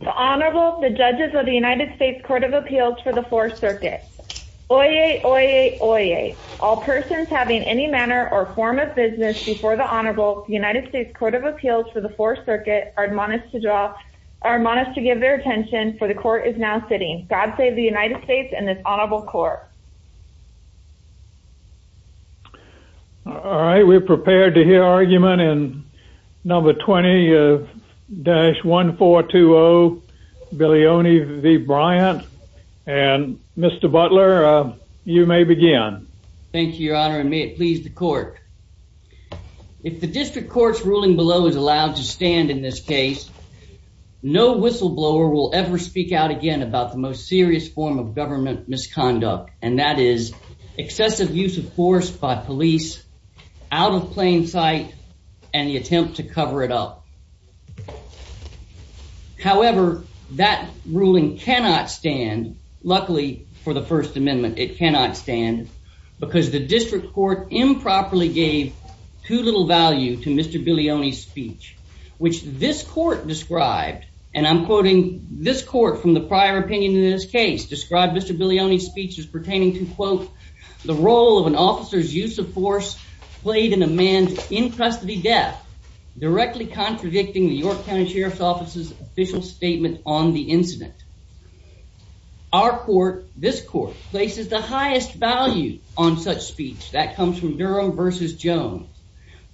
The Honorable, the Judges of the United States Court of Appeals for the Fourth Circuit. Oyez, oyez, oyez. All persons having any manner or form of business before the Honorable, the United States Court of Appeals for the Fourth Circuit are admonished to draw, are admonished to give their attention, for the court is now sitting. God save the United States and this Honorable Court. All right, we're prepared to hear argument in number 20-1420, Billioni v. Bryant. And Mr. Butler, you may begin. Thank you, Your Honor, and may it please the court. If the district court's ruling below is allowed to stand in this case, no whistleblower will ever speak out again about the most serious form of government misconduct, and that is excessive use of force by police out of plain sight and the attempt to cover it up. However, that ruling cannot stand, luckily for the First Amendment, it cannot stand because the district court improperly gave too little value to Mr. Billioni's speech, which this court described, and I'm quoting this court from the prior opinion in this case, described Mr. Billioni's speech as pertaining to, quote, the role of an officer's use of force played in a man's in-custody death, directly contradicting the York County Sheriff's Office's official statement on the incident. Our court, this court, places the highest value on such speech. That comes from Durham v. Jones.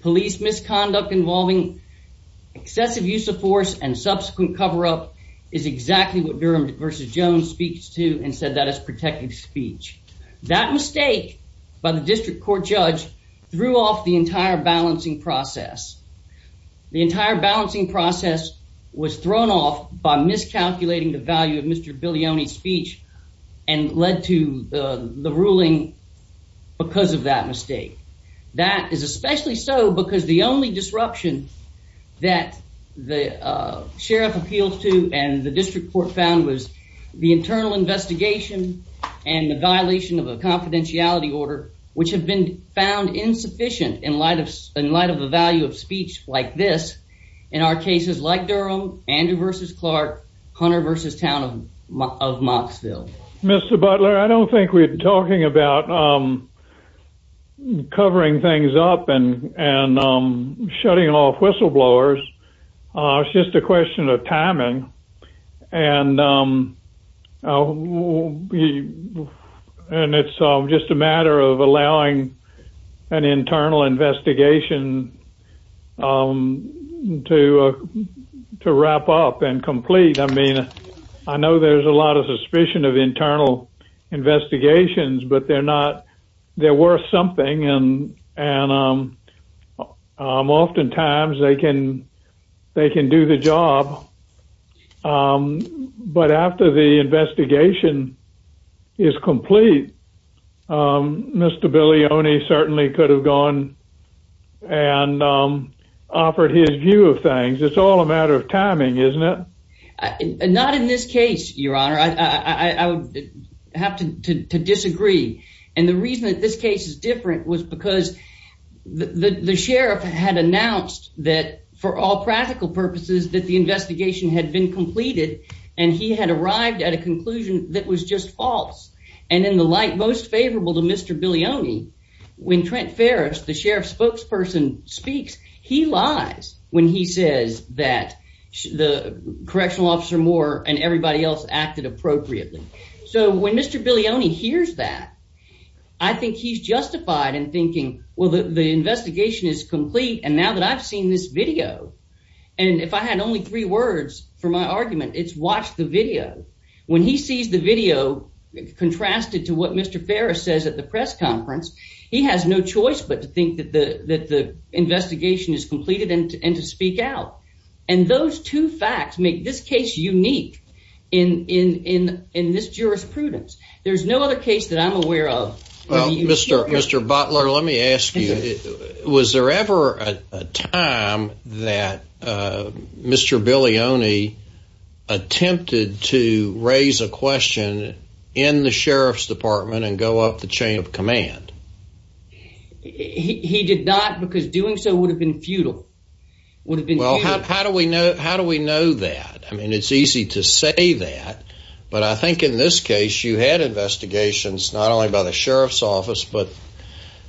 Police misconduct involving excessive use of force and subsequent cover-up is exactly what Durham v. Jones speaks to and said that is protective speech. That mistake by the district court judge threw off the entire balancing process. The entire balancing process was thrown off by miscalculating the value of Mr. Billioni's speech and led to the ruling because of that mistake. That is especially so because the only disruption that the sheriff appealed to and the district court found was the internal investigation and the violation of a confidentiality order, which have been found insufficient in light of the value of speech like this in our cases like Durham, Andrew v. Clark, Hunter v. Town of Mottsville. Mr. Butler, I don't think we're talking about covering things up and shutting off whistleblowers. It's just a question of timing. And it's just a matter of allowing an internal investigation to wrap up and complete. I mean, I know there's a lot of suspicion of internal investigations, but they're worth something and oftentimes they can do the job. But after the investigation is over and offered his view of things, it's all a matter of timing, isn't it? Not in this case, your honor. I would have to disagree. And the reason that this case is different was because the sheriff had announced that for all practical purposes that the investigation had been completed and he had arrived at a conclusion that was just false. And in the sheriff's spokesperson speaks, he lies when he says that the correctional officer Moore and everybody else acted appropriately. So when Mr. Bilioni hears that, I think he's justified in thinking, well, the investigation is complete and now that I've seen this video, and if I had only three words for my argument, it's watch the video. When he sees the video contrasted to what that the investigation is completed and to speak out. And those two facts make this case unique in this jurisprudence. There's no other case that I'm aware of. Mr. Butler, let me ask you, was there ever a time that Mr. Bilioni attempted to raise a question in the sheriff's department and go up the chain of command? He did not because doing so would have been futile. Well, how do we know? How do we know that? I mean, it's easy to say that, but I think in this case, you had investigations not only by the sheriff's office, but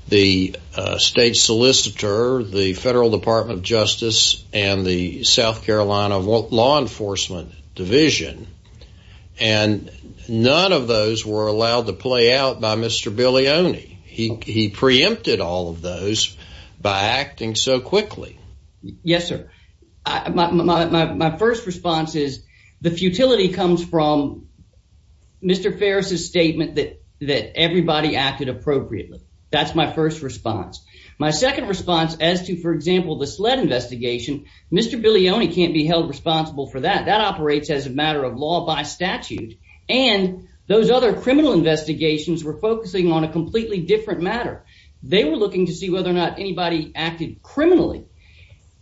the state solicitor, the federal Department of Justice and the South Carolina Law Enforcement Division. And none of those were allowed to play out by Mr. Bilioni. He preempted all of those by acting so quickly. Yes, sir. My first response is the futility comes from Mr. Ferris's statement that everybody acted appropriately. That's my first response. My second response as to, for example, the sled investigation, Mr. Bilioni can't be held responsible for that. That operates as a matter of law by statute. And those other criminal investigations were focusing on a completely different matter. They were looking to see whether or not anybody acted criminally.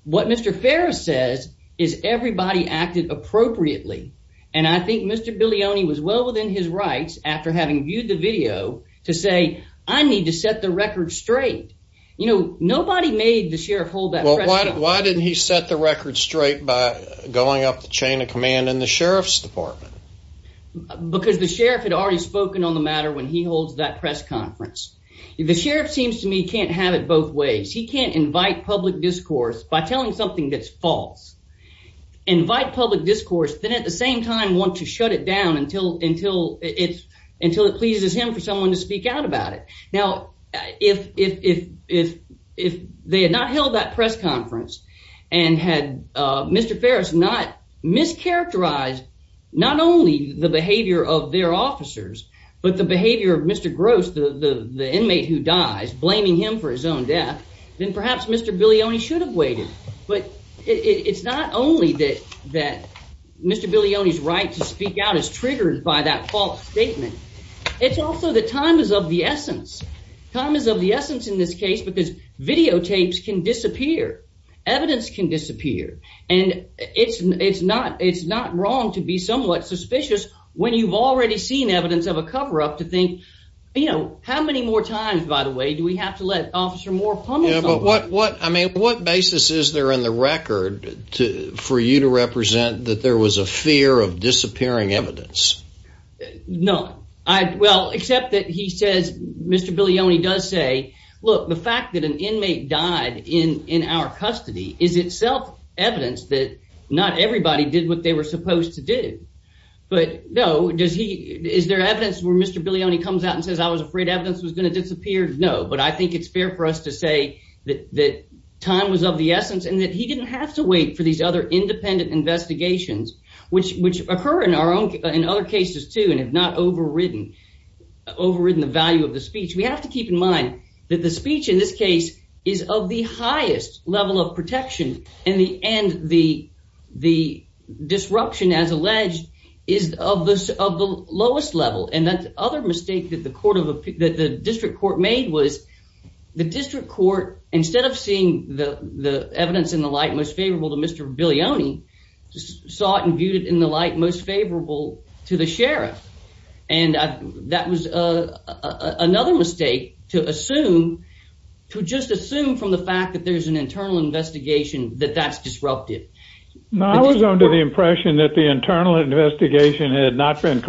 What Mr. Ferris says is everybody acted appropriately. And I think Mr. Bilioni was well within his rights after having viewed the video to say, I need to set the record straight. You know, nobody made the sheriff hold that. Why didn't he set the record straight by going up the chain of command in the sheriff's department? Because the sheriff had already spoken on the matter when he holds that press conference. The sheriff seems to me can't have it both ways. He can't invite public discourse by telling something that's false, invite public discourse, then at the same time want to shut it down until it pleases him for someone to speak out about it. Now, if they had not held that press conference and had Mr. Ferris not mischaracterized not only the behavior of their officers, but the behavior of Mr. Gross, the inmate who dies, blaming him for his own death, then perhaps Mr. Bilioni should have waited. But it's not only that Mr. Bilioni's right to speak out is triggered by that false statement. It's also that time is of the essence. Time is of the essence in this case because videotapes can disappear, evidence can disappear, and it's not wrong to be somewhat suspicious when you've already seen evidence of a cover-up to think, you know, how many more times, by the way, do we have to let Officer Moore pummel someone? Yeah, but what basis is there in the record for you to represent that there was a fear of disappearing evidence? No. Well, except that he says, Mr. Bilioni does say, look, the fact that an inmate died in our custody is itself evidence that not everybody did what they were supposed to do. But no, is there evidence where Mr. Bilioni comes out and says, I was afraid evidence was going to disappear? No. But I think it's fair for us to say that time was of the essence and that he didn't have to wait for these other independent investigations, which occur in other cases too and have not overridden the value of the speech. We have to keep in mind that the speech in this case is of the highest level of protection and the disruption, as alleged, is of the lowest level. And that other mistake that the District Court made was the District Court, instead of seeing the evidence in the light most favorable to Mr. Bilioni, saw it and viewed it in the light most favorable to the sheriff. And that was another mistake to assume, to just assume from the fact that there's an internal investigation that that's disruptive. I was under the impression that the internal investigation had not been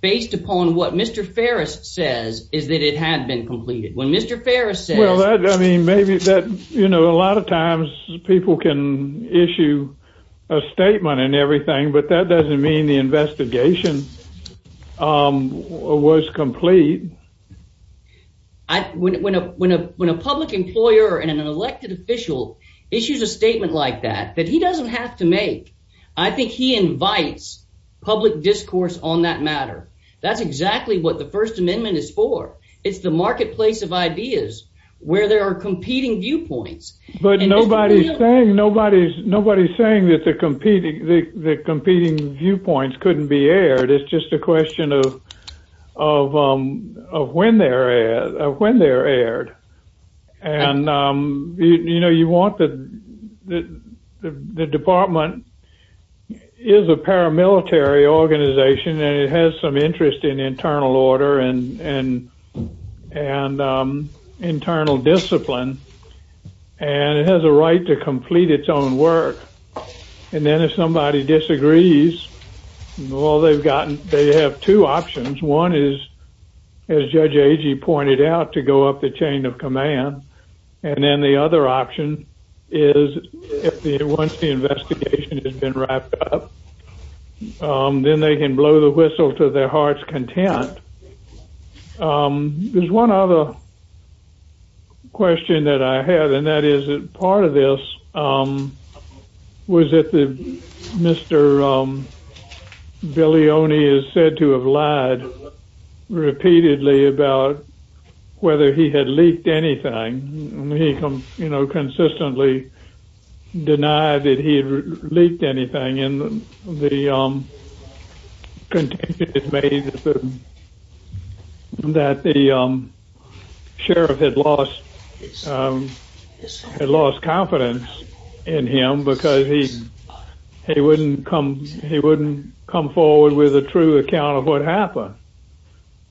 based upon what Mr. Farris says is that it had been completed. When Mr. Farris says... Well, I mean, maybe that, you know, a lot of times people can issue a statement and everything, but that doesn't mean the investigation was complete. When a public employer and an elected official issues a statement like that, that he doesn't have to make, I think he invites public discourse on that matter. That's exactly what the First Amendment is for. It's the marketplace of ideas where there are competing viewpoints. But nobody's saying that the competing viewpoints couldn't be aired, it's just a question of when they're aired. And, you know, you want the department is a paramilitary organization, and it has some interest in internal order and internal discipline. And it has a right to complete its own work. And then if somebody disagrees, they have two options. One is, as Judge Agee pointed out, to go up the chain of command. And then the other option is, once the investigation has been wrapped up, then they can blow the whistle to their heart's content. There's one other question that I have, and that is that part of this was that Mr. Bilioni is said to have lied repeatedly about whether he had leaked anything. He, you know, had lost confidence in him because he wouldn't come forward with a true account of what happened.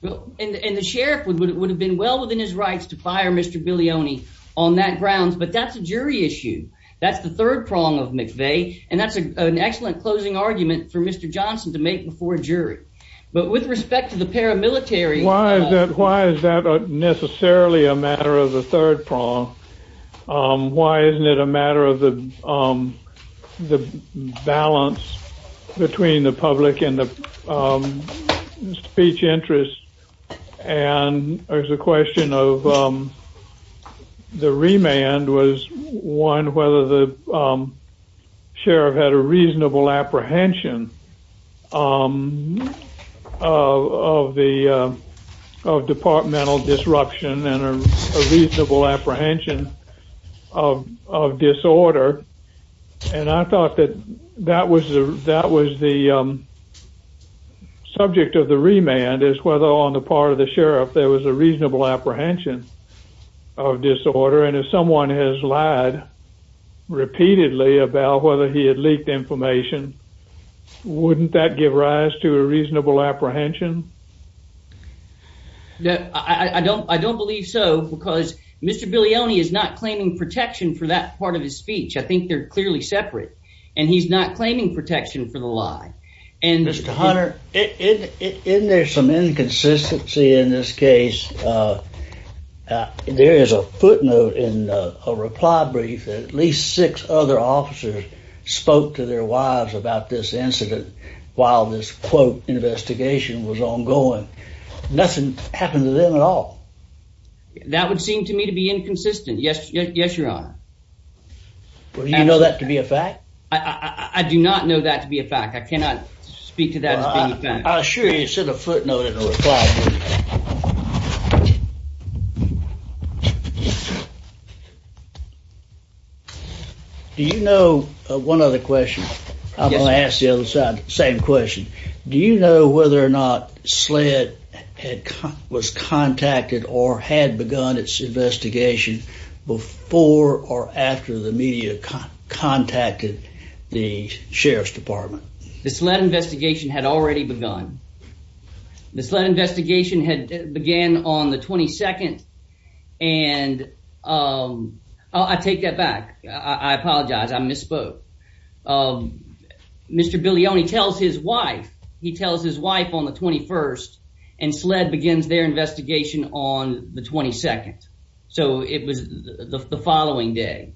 And the sheriff would have been well within his rights to fire Mr. Bilioni on that grounds, but that's a jury issue. That's the third prong of McVeigh, and that's an excellent closing argument for Mr. Johnson to make before a jury. But with respect to the paramilitary... Why is that necessarily a matter of the third prong? Why isn't it a matter of the balance between the public and the speech interest? And there's a question of the remand was one whether the sheriff had a reasonable apprehension of departmental disruption and a reasonable apprehension of disorder. And I thought that that was the subject of the remand is whether on the part of the sheriff there was a reasonable apprehension of disorder. And if someone has lied repeatedly about whether he had leaked information, wouldn't that give rise to a reasonable apprehension? No, I don't. I don't believe so because Mr. Bilioni is not claiming protection for that part of his speech. I think they're clearly separate, and he's not claiming protection for the lie. Mr. Hunter, isn't there some inconsistency in this case? There is a footnote in a reply brief that at least six other officers spoke to their wives about this incident while this quote investigation was ongoing. Nothing happened to them at all. That would seem to me to be inconsistent. Yes, yes, your honor. Well, do you know that to be a fact? I do not know that to be a fact. I assure you it's in a footnote in a reply. Do you know one other question? I'm going to ask the other side, same question. Do you know whether or not SLED was contacted or had begun its investigation before or after the media contacted the sheriff's department? The SLED investigation had already begun. The SLED investigation had began on the 22nd, and I take that back. I apologize. I misspoke. Mr. Bilioni tells his wife, he tells his wife on the 21st, and SLED begins their investigation on the 22nd. So it was the following day.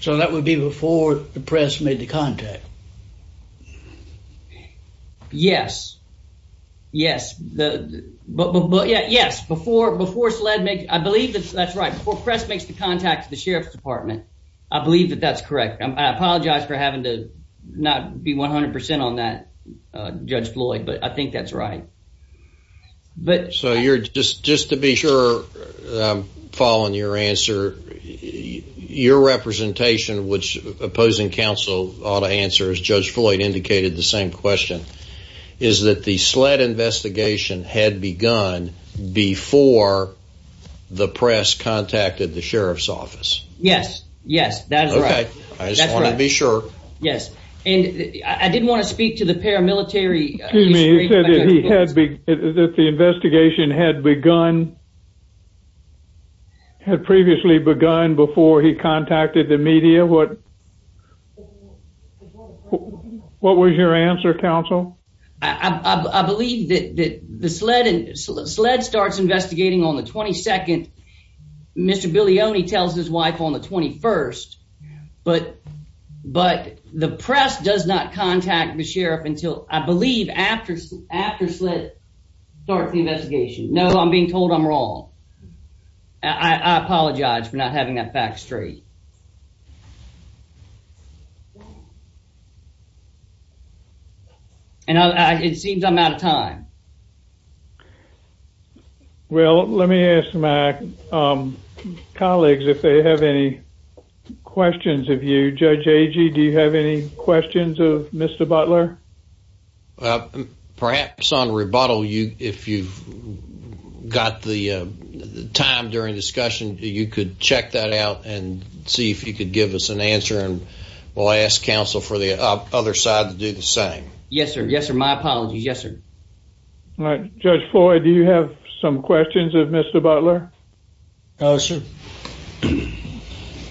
So that would be before the press made the contact. Yes, yes, but yeah, yes, before SLED, I believe that's right. Before press makes the contact to the sheriff's department, I believe that that's correct. I apologize for having to not be 100% on that, Judge Floyd, but I think that's right. But so you're just just to be sure, following your answer, your representation, which opposing counsel ought to answer, as Judge Floyd indicated, the same question is that the SLED investigation had begun before the press contacted the sheriff's office. Yes, yes, that's right. I just want to be sure. Yes, and I didn't want to speak to the paramilitary. Excuse me, you said that the investigation had begun, had previously begun before he contacted the media. What was your answer, counsel? I believe that the SLED starts investigating on the 22nd. Mr. Bilioni tells his wife on the 21st, but the press does not contact the sheriff until, I believe, after SLED starts the investigation. No, I'm being told I'm wrong. I apologize for not having that fact straight. And it seems I'm out of time. Well, let me ask my colleagues if they have any questions of you. Judge Agee, do you have any questions of Mr. Butler? Perhaps on rebuttal, if you've got the time during discussion, you could check that out and see if you could give us an answer. And we'll ask counsel for the other side to do the same. Yes, sir. Yes, sir. My apologies. Yes, sir. All right. Judge Floyd, do you have some questions of Mr. Butler? No, sir.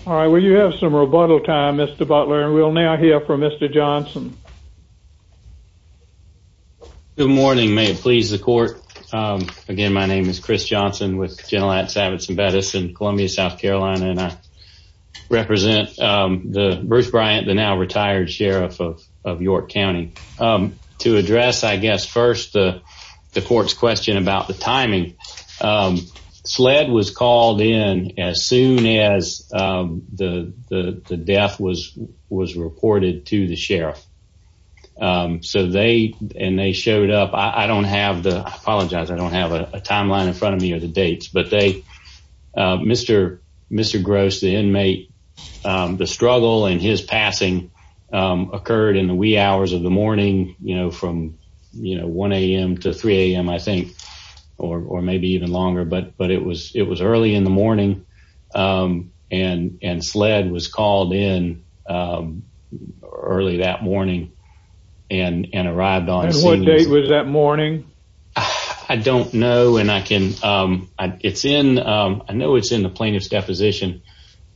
All right. Well, you have some rebuttal time, Mr. Butler, and we'll now hear from Mr. Johnson. Good morning. May it please the court. Again, my name is Chris Johnson with Genelat Savitz & Bettis in Columbia, South Carolina, and I the Bruce Bryant, the now-retired sheriff of York County. To address, I guess, first the court's question about the timing, SLED was called in as soon as the death was reported to the sheriff. So they showed up. I apologize, I don't have a timeline in front of me or the dates, but Mr. Gross, the inmate, the struggle and his passing occurred in the wee hours of the morning, from 1 a.m. to 3 a.m., I think, or maybe even longer, but it was early in the morning, and SLED was called in early that morning and arrived on scene. And what date was that morning? I don't know, and I can, it's in, I know it's in the plaintiff's deposition,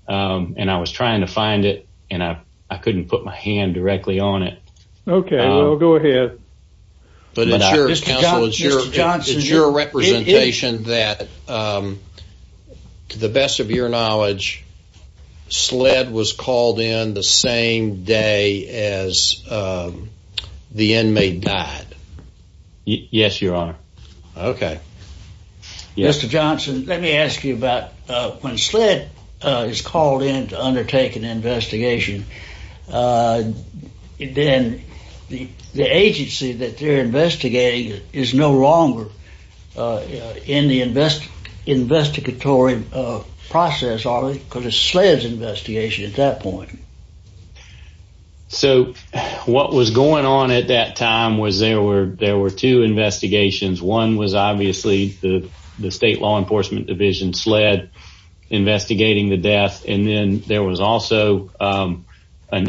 and I was trying to find it, and I couldn't put my hand directly on it. Okay, well, go ahead. But it's your representation that, to the best of your knowledge, SLED was called in the same day as the inmate died. Yes, your honor. Okay. Mr. Johnson, let me ask you about, when SLED is called in to undertake an investigation, then the agency that they're investigating is no longer in the investigatory process, are they? Because it's SLED's investigation at that point. Okay. So, what was going on at that time was, there were two investigations. One was obviously the state law enforcement division, SLED, investigating the death, and then there was also an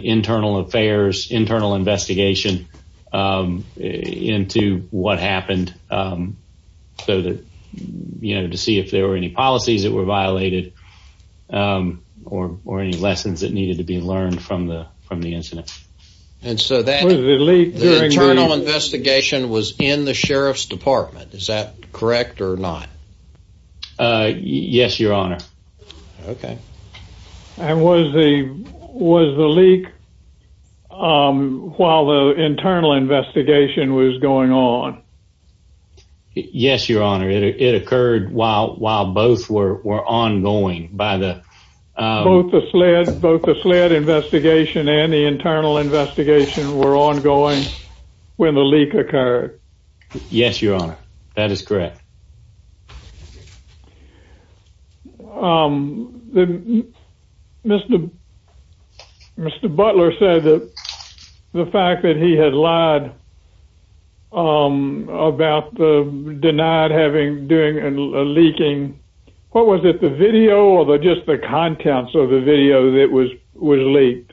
internal affairs, internal investigation into what happened, so that, you know, to see if there were any policies that were violated, or any lessons that needed to be learned from the incident. And so, the internal investigation was in the sheriff's department, is that correct or not? Yes, your honor. Okay. And was the leak while the internal investigation was going on? Yes, your honor. It occurred while both were ongoing by the- Both the SLED investigation and the internal investigation were ongoing when the leak occurred. Yes, your honor. That is correct. Um, then, Mr. Butler said that the fact that he had lied about the, denied having, doing a leaking, what was it, the video or just the contents of the video that was leaked?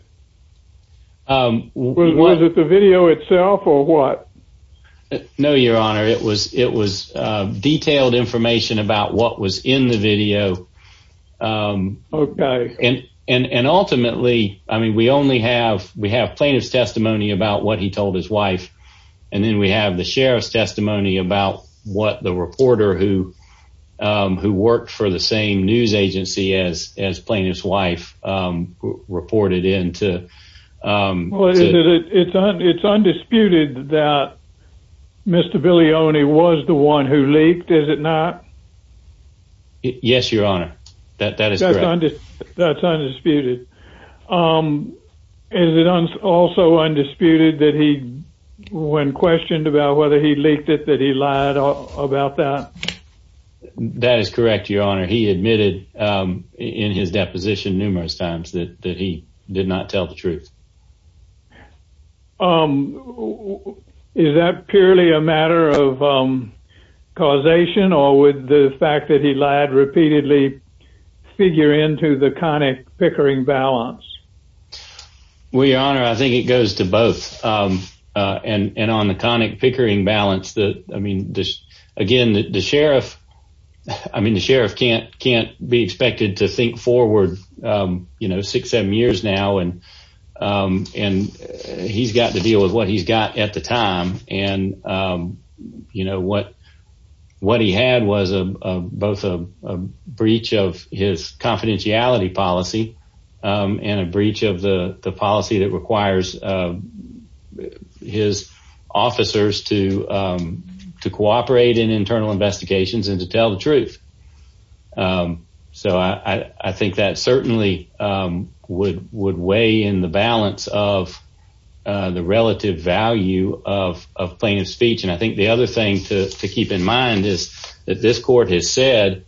Was it the video itself or what? No, your honor. It was, it was detailed information about what was in the video. Okay. And, and, and ultimately, I mean, we only have, we have plaintiff's testimony about what he told his wife, and then we have the sheriff's testimony about what the reporter who, who worked for the same news agency as, as plaintiff's wife reported into. Well, is it, it's undisputed that Mr. Bilioni was the one who leaked, is it not? Yes, your honor. That, that is correct. That's undisputed. Um, is it also undisputed that he, when questioned about whether he leaked it, that he lied about that? That is correct, your honor. He admitted, um, in his deposition numerous times that, that he did not tell the truth. Um, is that purely a matter of, um, causation or would the fact that he lied repeatedly figure into the conic pickering balance? Well, your honor, I think it goes to both, um, uh, and, and on the conic pickering balance that, I mean, again, the sheriff, I mean, the sheriff can't, can't be expected to think forward, um, you know, six, seven years now. And, um, and he's got to deal with what he's got at the time. And, um, you know, what, what he had was a, uh, both a, a breach of his confidentiality policy, um, and a breach of the, the policy that requires, uh, his officers to, um, to cooperate in internal investigations and to tell the truth. Um, so I, I, I think that certainly, um, would, would weigh in the balance of, uh, the relative value of, of plaintiff's speech. And I think the other thing to keep in mind is that this court has said,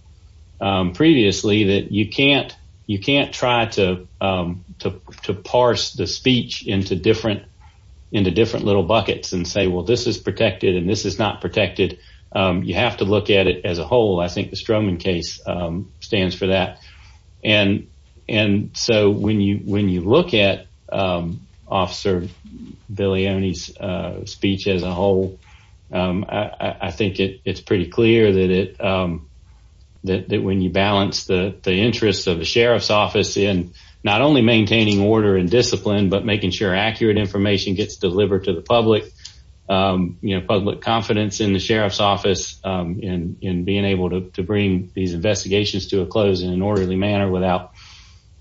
um, previously that you can't, you can't try to, um, to, to parse the speech into different, into different little buckets and say, well, this is protected and this is not protected. Um, you have to look at it as a whole. I think the Stroman case, um, stands for that. And, and so when you, when you look at, um, officer Bilioni's, uh, speech as a whole, um, I, I think it, it's pretty clear that it, um, that, that when you balance the, the interests of the sheriff's office in not only maintaining order and discipline, but making sure accurate information gets delivered to the public, um, you know, public confidence in the sheriff's office, um, in, in being able to, to bring these investigations to a close in an orderly manner without,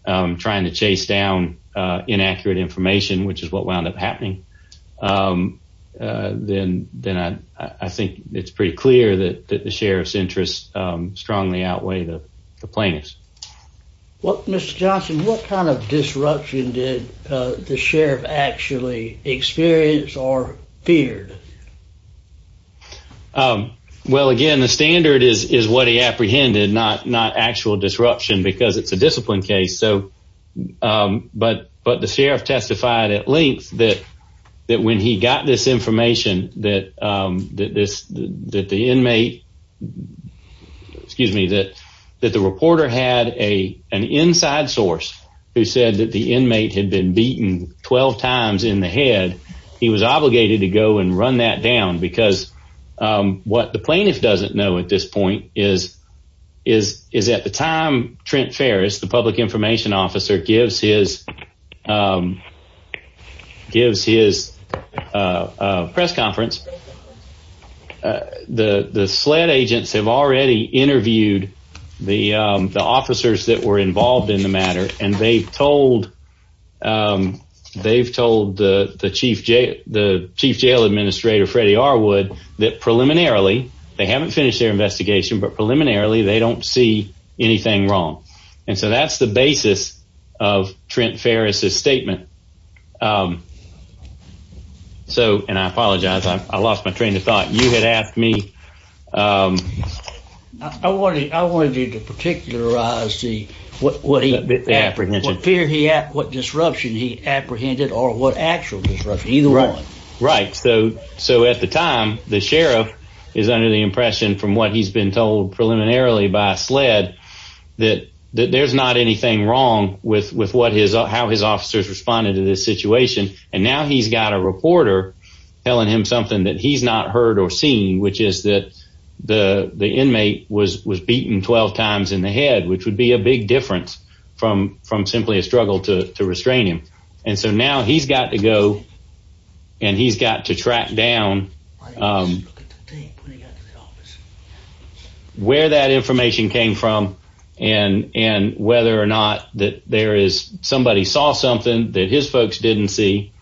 um, trying to chase down, uh, inaccurate information, which is what wound up happening. Um, uh, then, then I, I think it's pretty clear that, that the sheriff's interests, um, strongly outweigh the plaintiff's. Well, Mr. Johnson, what kind of disruption did, uh, the sheriff actually experience or feared? Um, well, again, the standard is, is what he apprehended, not, not actual disruption because it's a discipline case. So, um, but, but the sheriff testified at length that, that when he got this information that, um, that this, that the inmate, excuse me, that, that the reporter had a, an inside source who said that the inmate had been beaten 12 times in the head, he was obligated to go and run that down because, um, what the plaintiff doesn't know at this point is, is, is at the time Trent Ferris, the public information officer gives his, um, gives his, uh, uh, press conference. The, the SLED agents have already interviewed the, um, the officers that were involved in the matter and they've told, um, they've told the, the chief jail, the chief jail administrator, Freddie Arwood, that preliminarily, they haven't finished their investigation, but preliminarily they don't see anything wrong. And so that's the basis of Trent Ferris' statement. Um, so, and I apologize, I lost my train of thought. You had asked me, um. I wanted, I wanted you to particularize the, what, what he, what fear he had, what disruption he apprehended or what actual disruption, either one. Right. So, so at the time, the sheriff is under the impression from what he's been told preliminarily by SLED that, that there's not anything wrong with, with what his, how his officers responded to this situation. And now he's got a reporter telling him something that he's not heard or seen, which is that the, the inmate was, was beaten 12 times in the head, which would be a big difference from, from simply a struggle to, to restrain him. And so now he's got to go and he's got to track down, um, where that information came from and, and whether or not that there is, somebody saw something that his folks didn't see.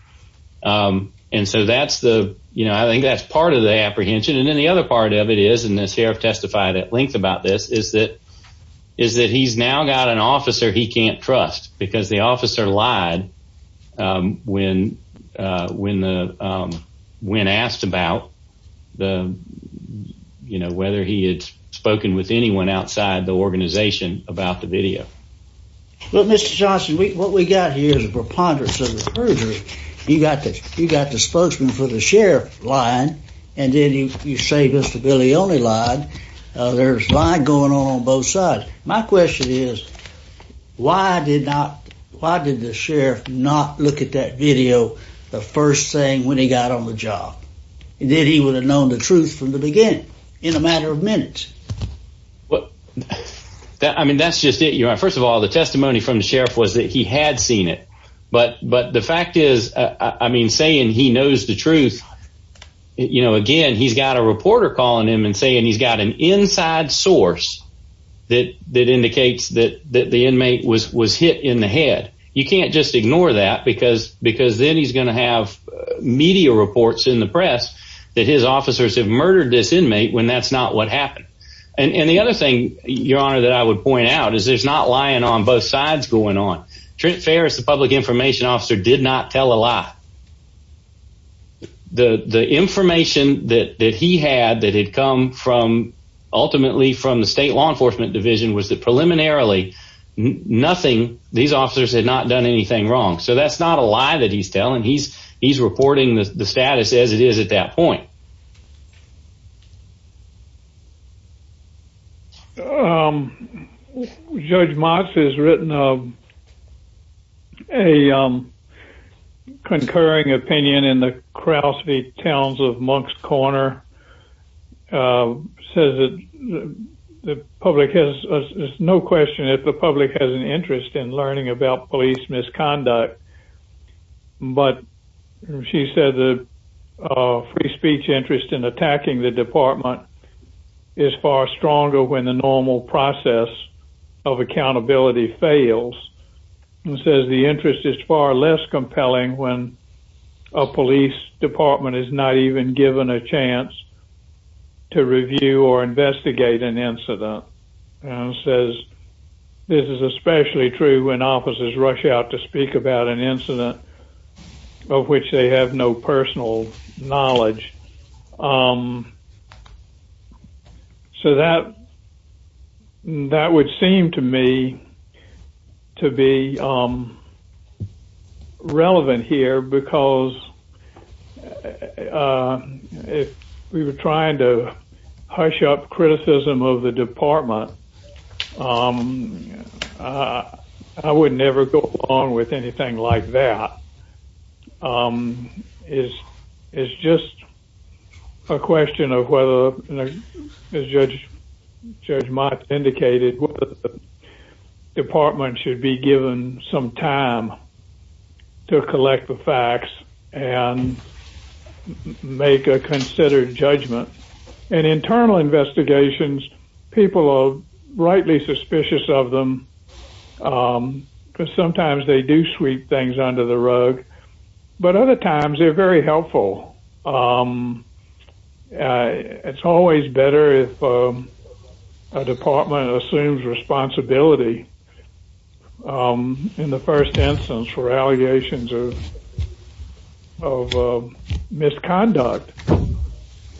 Um, and so that's the, you know, I think that's part of the apprehension. And then the other part of it is, and the sheriff testified at length about this, is that, is that he's now got an officer he can't trust because the officer lied, um, when, uh, when the, um, when asked about the, you know, whether he had spoken with anyone outside the organization about the video. Well, Mr. Johnson, we, what we got here is a preponderance of the perjury. You got the, you got the spokesman for the share line, and then you, you say this to Billy only line. Uh, there's a lot going on on both sides. My question is why did not, why did the sheriff not look at that video? The first thing when he got on the job, and then he would have known the truth from the beginning in a matter of minutes. Well, I mean, that's just it. You're right. First of all, the testimony from the sheriff was that he had seen it, but, but the fact is, uh, I mean, saying he knows the truth, you know, again, he's got a reporter calling him and saying, he's got an inside source that, that indicates that, that the inmate was, was hit in the head. You can't just ignore that because, because then he's going to have media reports in the press that his officers have and the other thing, your honor, that I would point out is there's not lying on both sides going on. Trent Ferris, the public information officer did not tell a lie. The, the information that, that he had, that had come from ultimately from the state law enforcement division was that preliminarily nothing, these officers had not done anything wrong. So that's not a lie that he's telling. He's, he's reporting the status as it is at that point. Um, Judge Mox has written, um, a, um, concurring opinion in the Crosby Towns of Monks Corner, um, says that the public has no question that the public has an interest in learning about police misconduct. But she said the, uh, free speech interest in attacking the department is far stronger when the normal process of accountability fails and says the interest is far less compelling when a police department is not even given a chance to review or investigate an incident and says this is especially true when officers rush out to speak about an incident of which they have no personal knowledge. Um, so that, that would seem to me to be, um, relevant here because, uh, uh, if we were trying to hush up criticism of the department, um, uh, I would never go along with anything like that. Um, it's, it's just a question of whether, as Judge, Judge Mox indicated, whether the department should be given some time to collect the facts and make a considered judgment. In internal investigations, people are rightly suspicious of them, um, because sometimes they do sweep things under the rug, but other times they're very helpful. Um, uh, it's always better if, um, a department assumes responsibility, um, in the first instance for allegations of, of, uh, misconduct.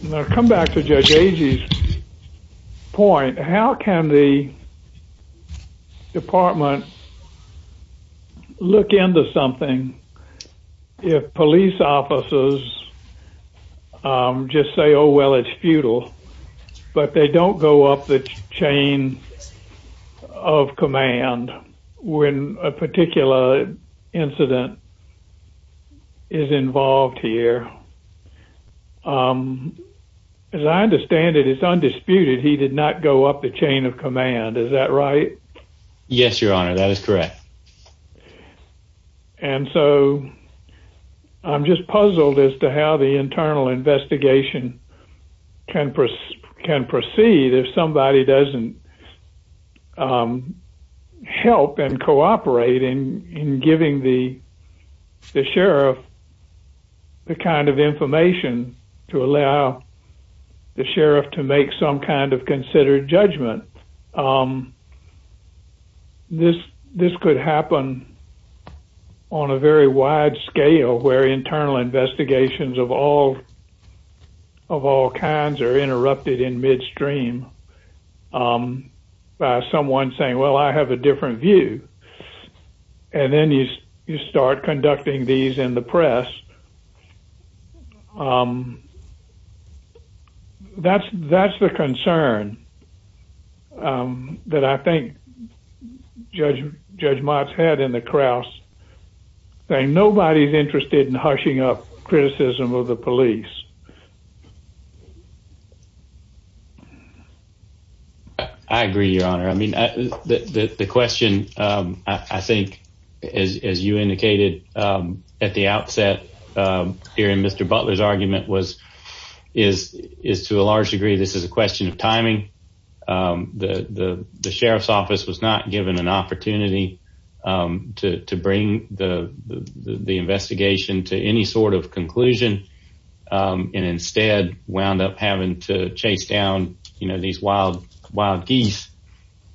Now, come back to Judge Agee's point. How can the department look into something if police officers, um, just say, oh, well, it's futile, but they don't go up the chain of command when a particular incident is involved here? Um, as I understand it, it's undisputed he did not go up the chain of command. Is that right? Yes, Your Honor. That is correct. And so I'm just puzzled as to how the internal investigation can proceed if somebody doesn't, um, help and cooperate in giving the sheriff the kind of information to allow the sheriff to make some kind of considered judgment. Um, this could happen on a very wide scale where internal investigations of all, of all kinds are interrupted in midstream, um, by someone saying, well, I have a different view. And then you, you start conducting these in the press. Um, that's, that's the concern, um, that I think Judge, Judge Mott's had in the Kraus saying nobody's interested in hushing up criticism of the police. I agree, Your Honor. I mean, the question, um, I think, as you indicated, um, at the outset, um, hearing Mr. Butler's argument was, is, is to a large degree, this is a question of timing. Um, the, the, the sheriff's office was not given an opportunity, um, to, to bring the, the sort of conclusion, um, and instead wound up having to chase down, you know, these wild, wild geese,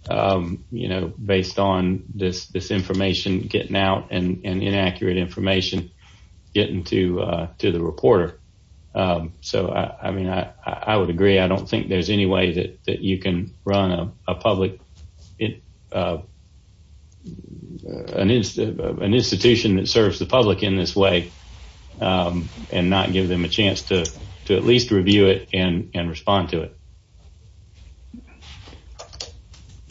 um, you know, based on this, this information getting out and inaccurate information getting to, uh, to the reporter. Um, so I, I mean, I, I would agree. I don't think there's any way that you can run a public, uh, uh, an institution that serves the public in this way, um, and not give them a chance to, to at least review it and, and respond to it.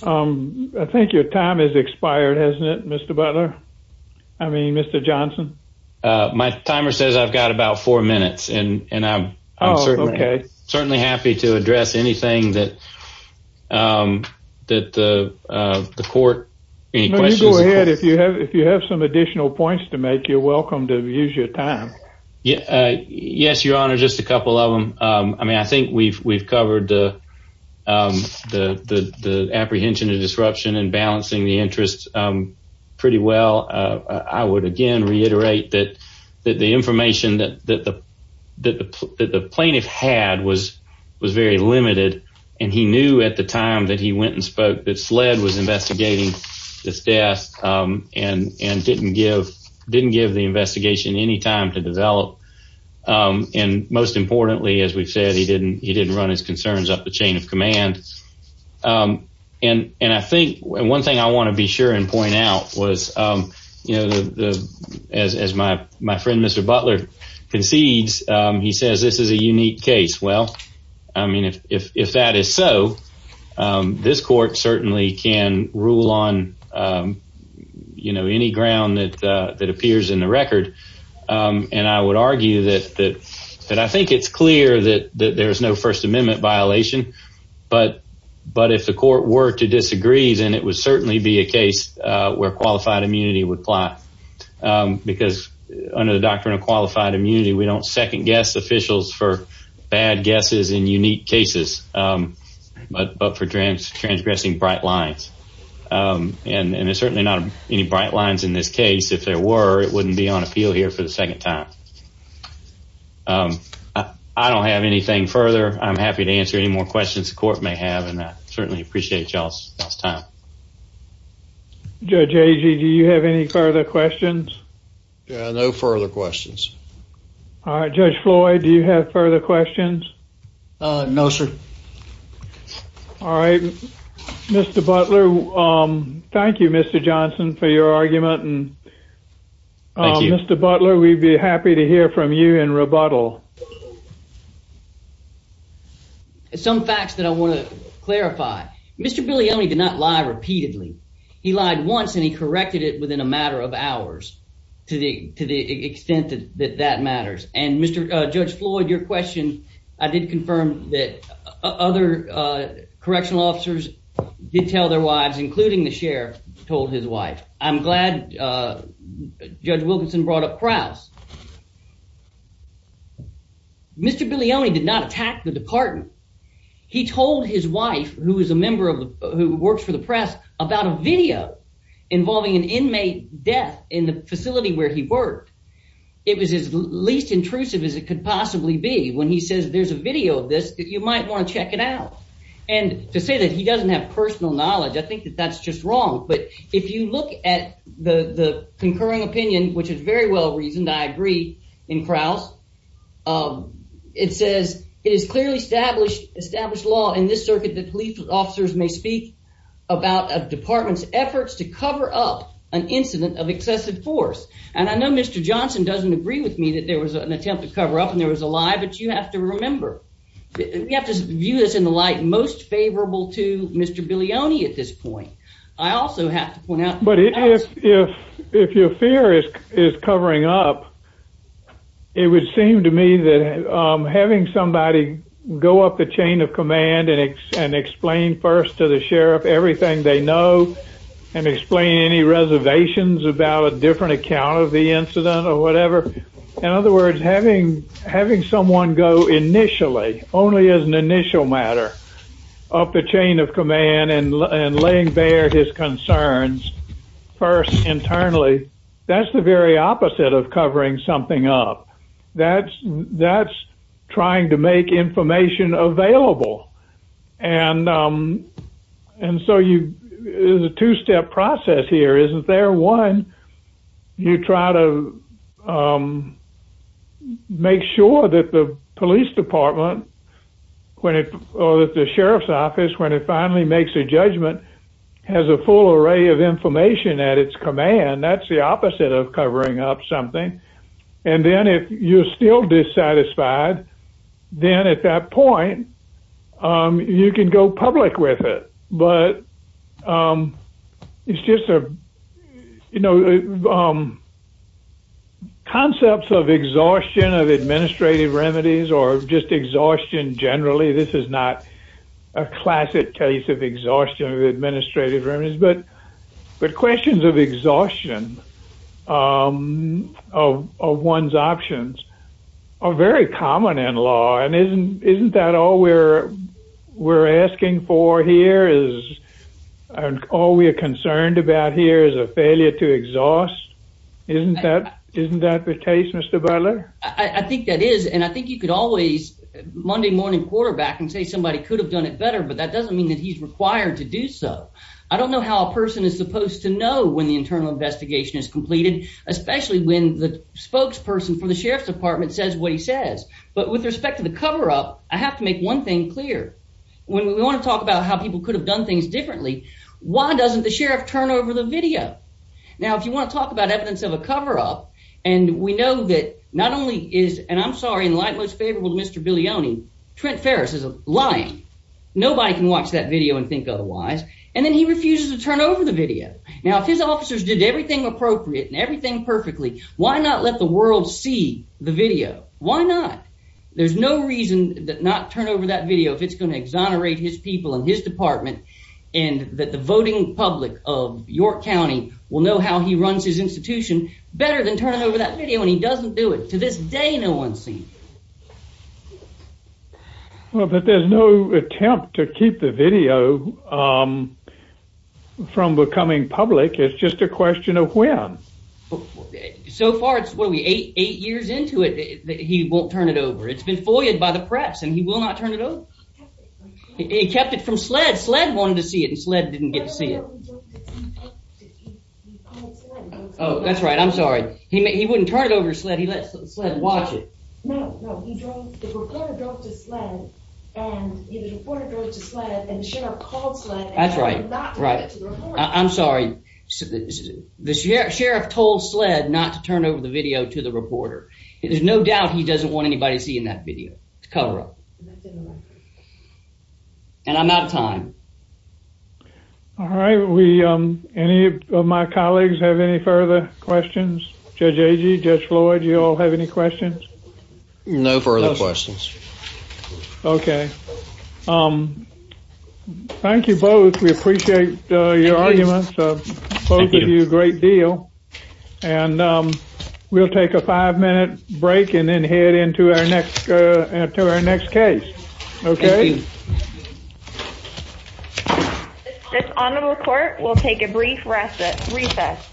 Um, I think your time has expired, hasn't it, Mr. Butler? I mean, Mr. Johnson. My timer says I've got about four minutes and I'm certainly happy to address anything that, um, that, uh, uh, the court, any questions, go ahead. If you have, if you have some additional points to make, you're welcome to use your time. Yeah. Uh, yes, your honor, just a couple of them. Um, I mean, I think we've, we've covered the, um, the, the, the apprehension and disruption and balancing the interests, um, pretty well. Uh, I would again, reiterate that, that the information that, that the, that the, that the plaintiff had was, was very limited. And he knew at the time that he went and spoke that SLED was investigating this death, um, and, and didn't give, didn't give the investigation any time to develop. Um, and most importantly, as we've said, he didn't, he didn't run his concerns up the chain of command. Um, and, and I think one thing I want to be sure and point out was, um, you know, the, as, as my, my friend, Mr. Butler concedes, um, he says, this is a unique case. Well, I mean, if, if, if that is so, um, this court certainly can rule on, um, you know, any ground that, uh, that appears in the record. Um, and I would argue that, that, that I think it's clear that, that there is no first amendment violation, but, but if the court were to disagree, then it would certainly be a case, uh, where qualified immunity would apply. Um, because under the doctrine of qualified immunity, we don't second guess officials for bad guesses in unique cases, um, but, but for trans, transgressing bright lines. Um, and, and there's certainly not any bright lines in this case. If there were, it wouldn't be on appeal here for the second time. Um, I don't have anything further. I'm happy to answer any more questions the court may have. Certainly appreciate y'all's time. Judge Agee, do you have any further questions? Yeah, no further questions. All right. Judge Floyd, do you have further questions? Uh, no, sir. All right. Mr. Butler. Um, thank you, Mr. Johnson for your argument and Mr. Butler, we'd be happy to hear from you in rebuttal. Some facts that I want to clarify. Mr. Bilione did not lie repeatedly. He lied once and he corrected it within a matter of hours to the, to the extent that that matters. And Mr, uh, Judge Floyd, your question, I did confirm that other, uh, correctional officers did tell their wives, including the sheriff, told his wife. I'm glad, uh, Judge Wilkinson brought up Krause. Mr. Bilione did not attack the department. He told his wife, who is a member of the, who works for the press, about a video involving an inmate death in the facility where he worked. It was as least intrusive as it could possibly be. When he says there's a video of this, you might want to check it out. And to say that he doesn't have personal knowledge, I think that that's just wrong. But if you look at the, the concurring opinion, which is very well reasoned, I agree, in Krause, um, it says it is clearly established, established law in this circuit that police officers may speak about a department's efforts to cover up an incident of excessive force. And I know Mr. Johnson doesn't agree with me that there was an attempt to cover up and there was a lie, but you have to remember, you have to view this in the light most favorable to Mr. Bilione at this point. I also have to point out. But if your fear is covering up, it would seem to me that having somebody go up the chain of command and explain first to the sheriff everything they know and explain any reservations about a different account of the incident or whatever. In other words, having someone go initially, only as an initial matter, up the chain of command and laying bare his concerns first internally, that's the very opposite of covering something up. That's, that's trying to make information available. And, um, and so you, it's a two step process here, isn't there? One, you try to, um, make sure that the police department, when it, or that the sheriff's judgment has a full array of information at its command, that's the opposite of covering up something. And then if you're still dissatisfied, then at that point, um, you can go public with it. But, um, it's just a, you know, um, concepts of exhaustion of administrative remedies or just exhaustion generally. This is not a classic case of exhaustion of administrative remedies, but, but questions of exhaustion, um, of one's options are very common in law. And isn't, isn't that all we're, we're asking for here is, and all we're concerned about here is a failure to exhaust. Isn't that, isn't that the case, Mr. Butler? I think that is. And I think you could always Monday morning quarterback and say, somebody could have done it better, but that doesn't mean that he's required to do so. I don't know how a person is supposed to know when the internal investigation is completed, especially when the spokesperson for the sheriff's department says what he says. But with respect to the coverup, I have to make one thing clear when we want to talk about how people could have done things differently. Why doesn't the sheriff turn over the video? Now, if you want to talk about evidence of a coverup, and we know that not only is, and I'm sorry, and like most favorable to Mr. Bilioni, Trent Ferris is lying. Nobody can watch that video and think otherwise. And then he refuses to turn over the video. Now, if his officers did everything appropriate and everything perfectly, why not let the world see the video? Why not? There's no reason that not turn over that video if it's going to exonerate his people and his department, and that the voting public of York County will know how he runs his institution better than turning over that video, and he doesn't do it. To this day, no one's seen. Well, but there's no attempt to keep the video from becoming public. It's just a question of when. So far, it's, what are we, eight years into it, he won't turn it over. It's been foiled by the press, and he will not turn it over. He kept it from SLED. SLED wanted to see it, and SLED didn't get to see it. Oh, that's right. I'm sorry. He wouldn't turn it over to SLED. He let SLED watch it. No, no. He drove, the reporter drove to SLED, and the reporter drove to SLED, and the sheriff called SLED. That's right, right. I'm sorry. The sheriff told SLED not to turn over the video to the reporter. There's no doubt he doesn't want anybody seeing that video. It's all right. We, any of my colleagues have any further questions? Judge Agee, Judge Floyd, you all have any questions? No further questions. Okay. Thank you both. We appreciate your arguments. Both of you, great deal. And we'll take a five-minute break and then head into our next case. Okay. This Honorable Court will take a brief recess.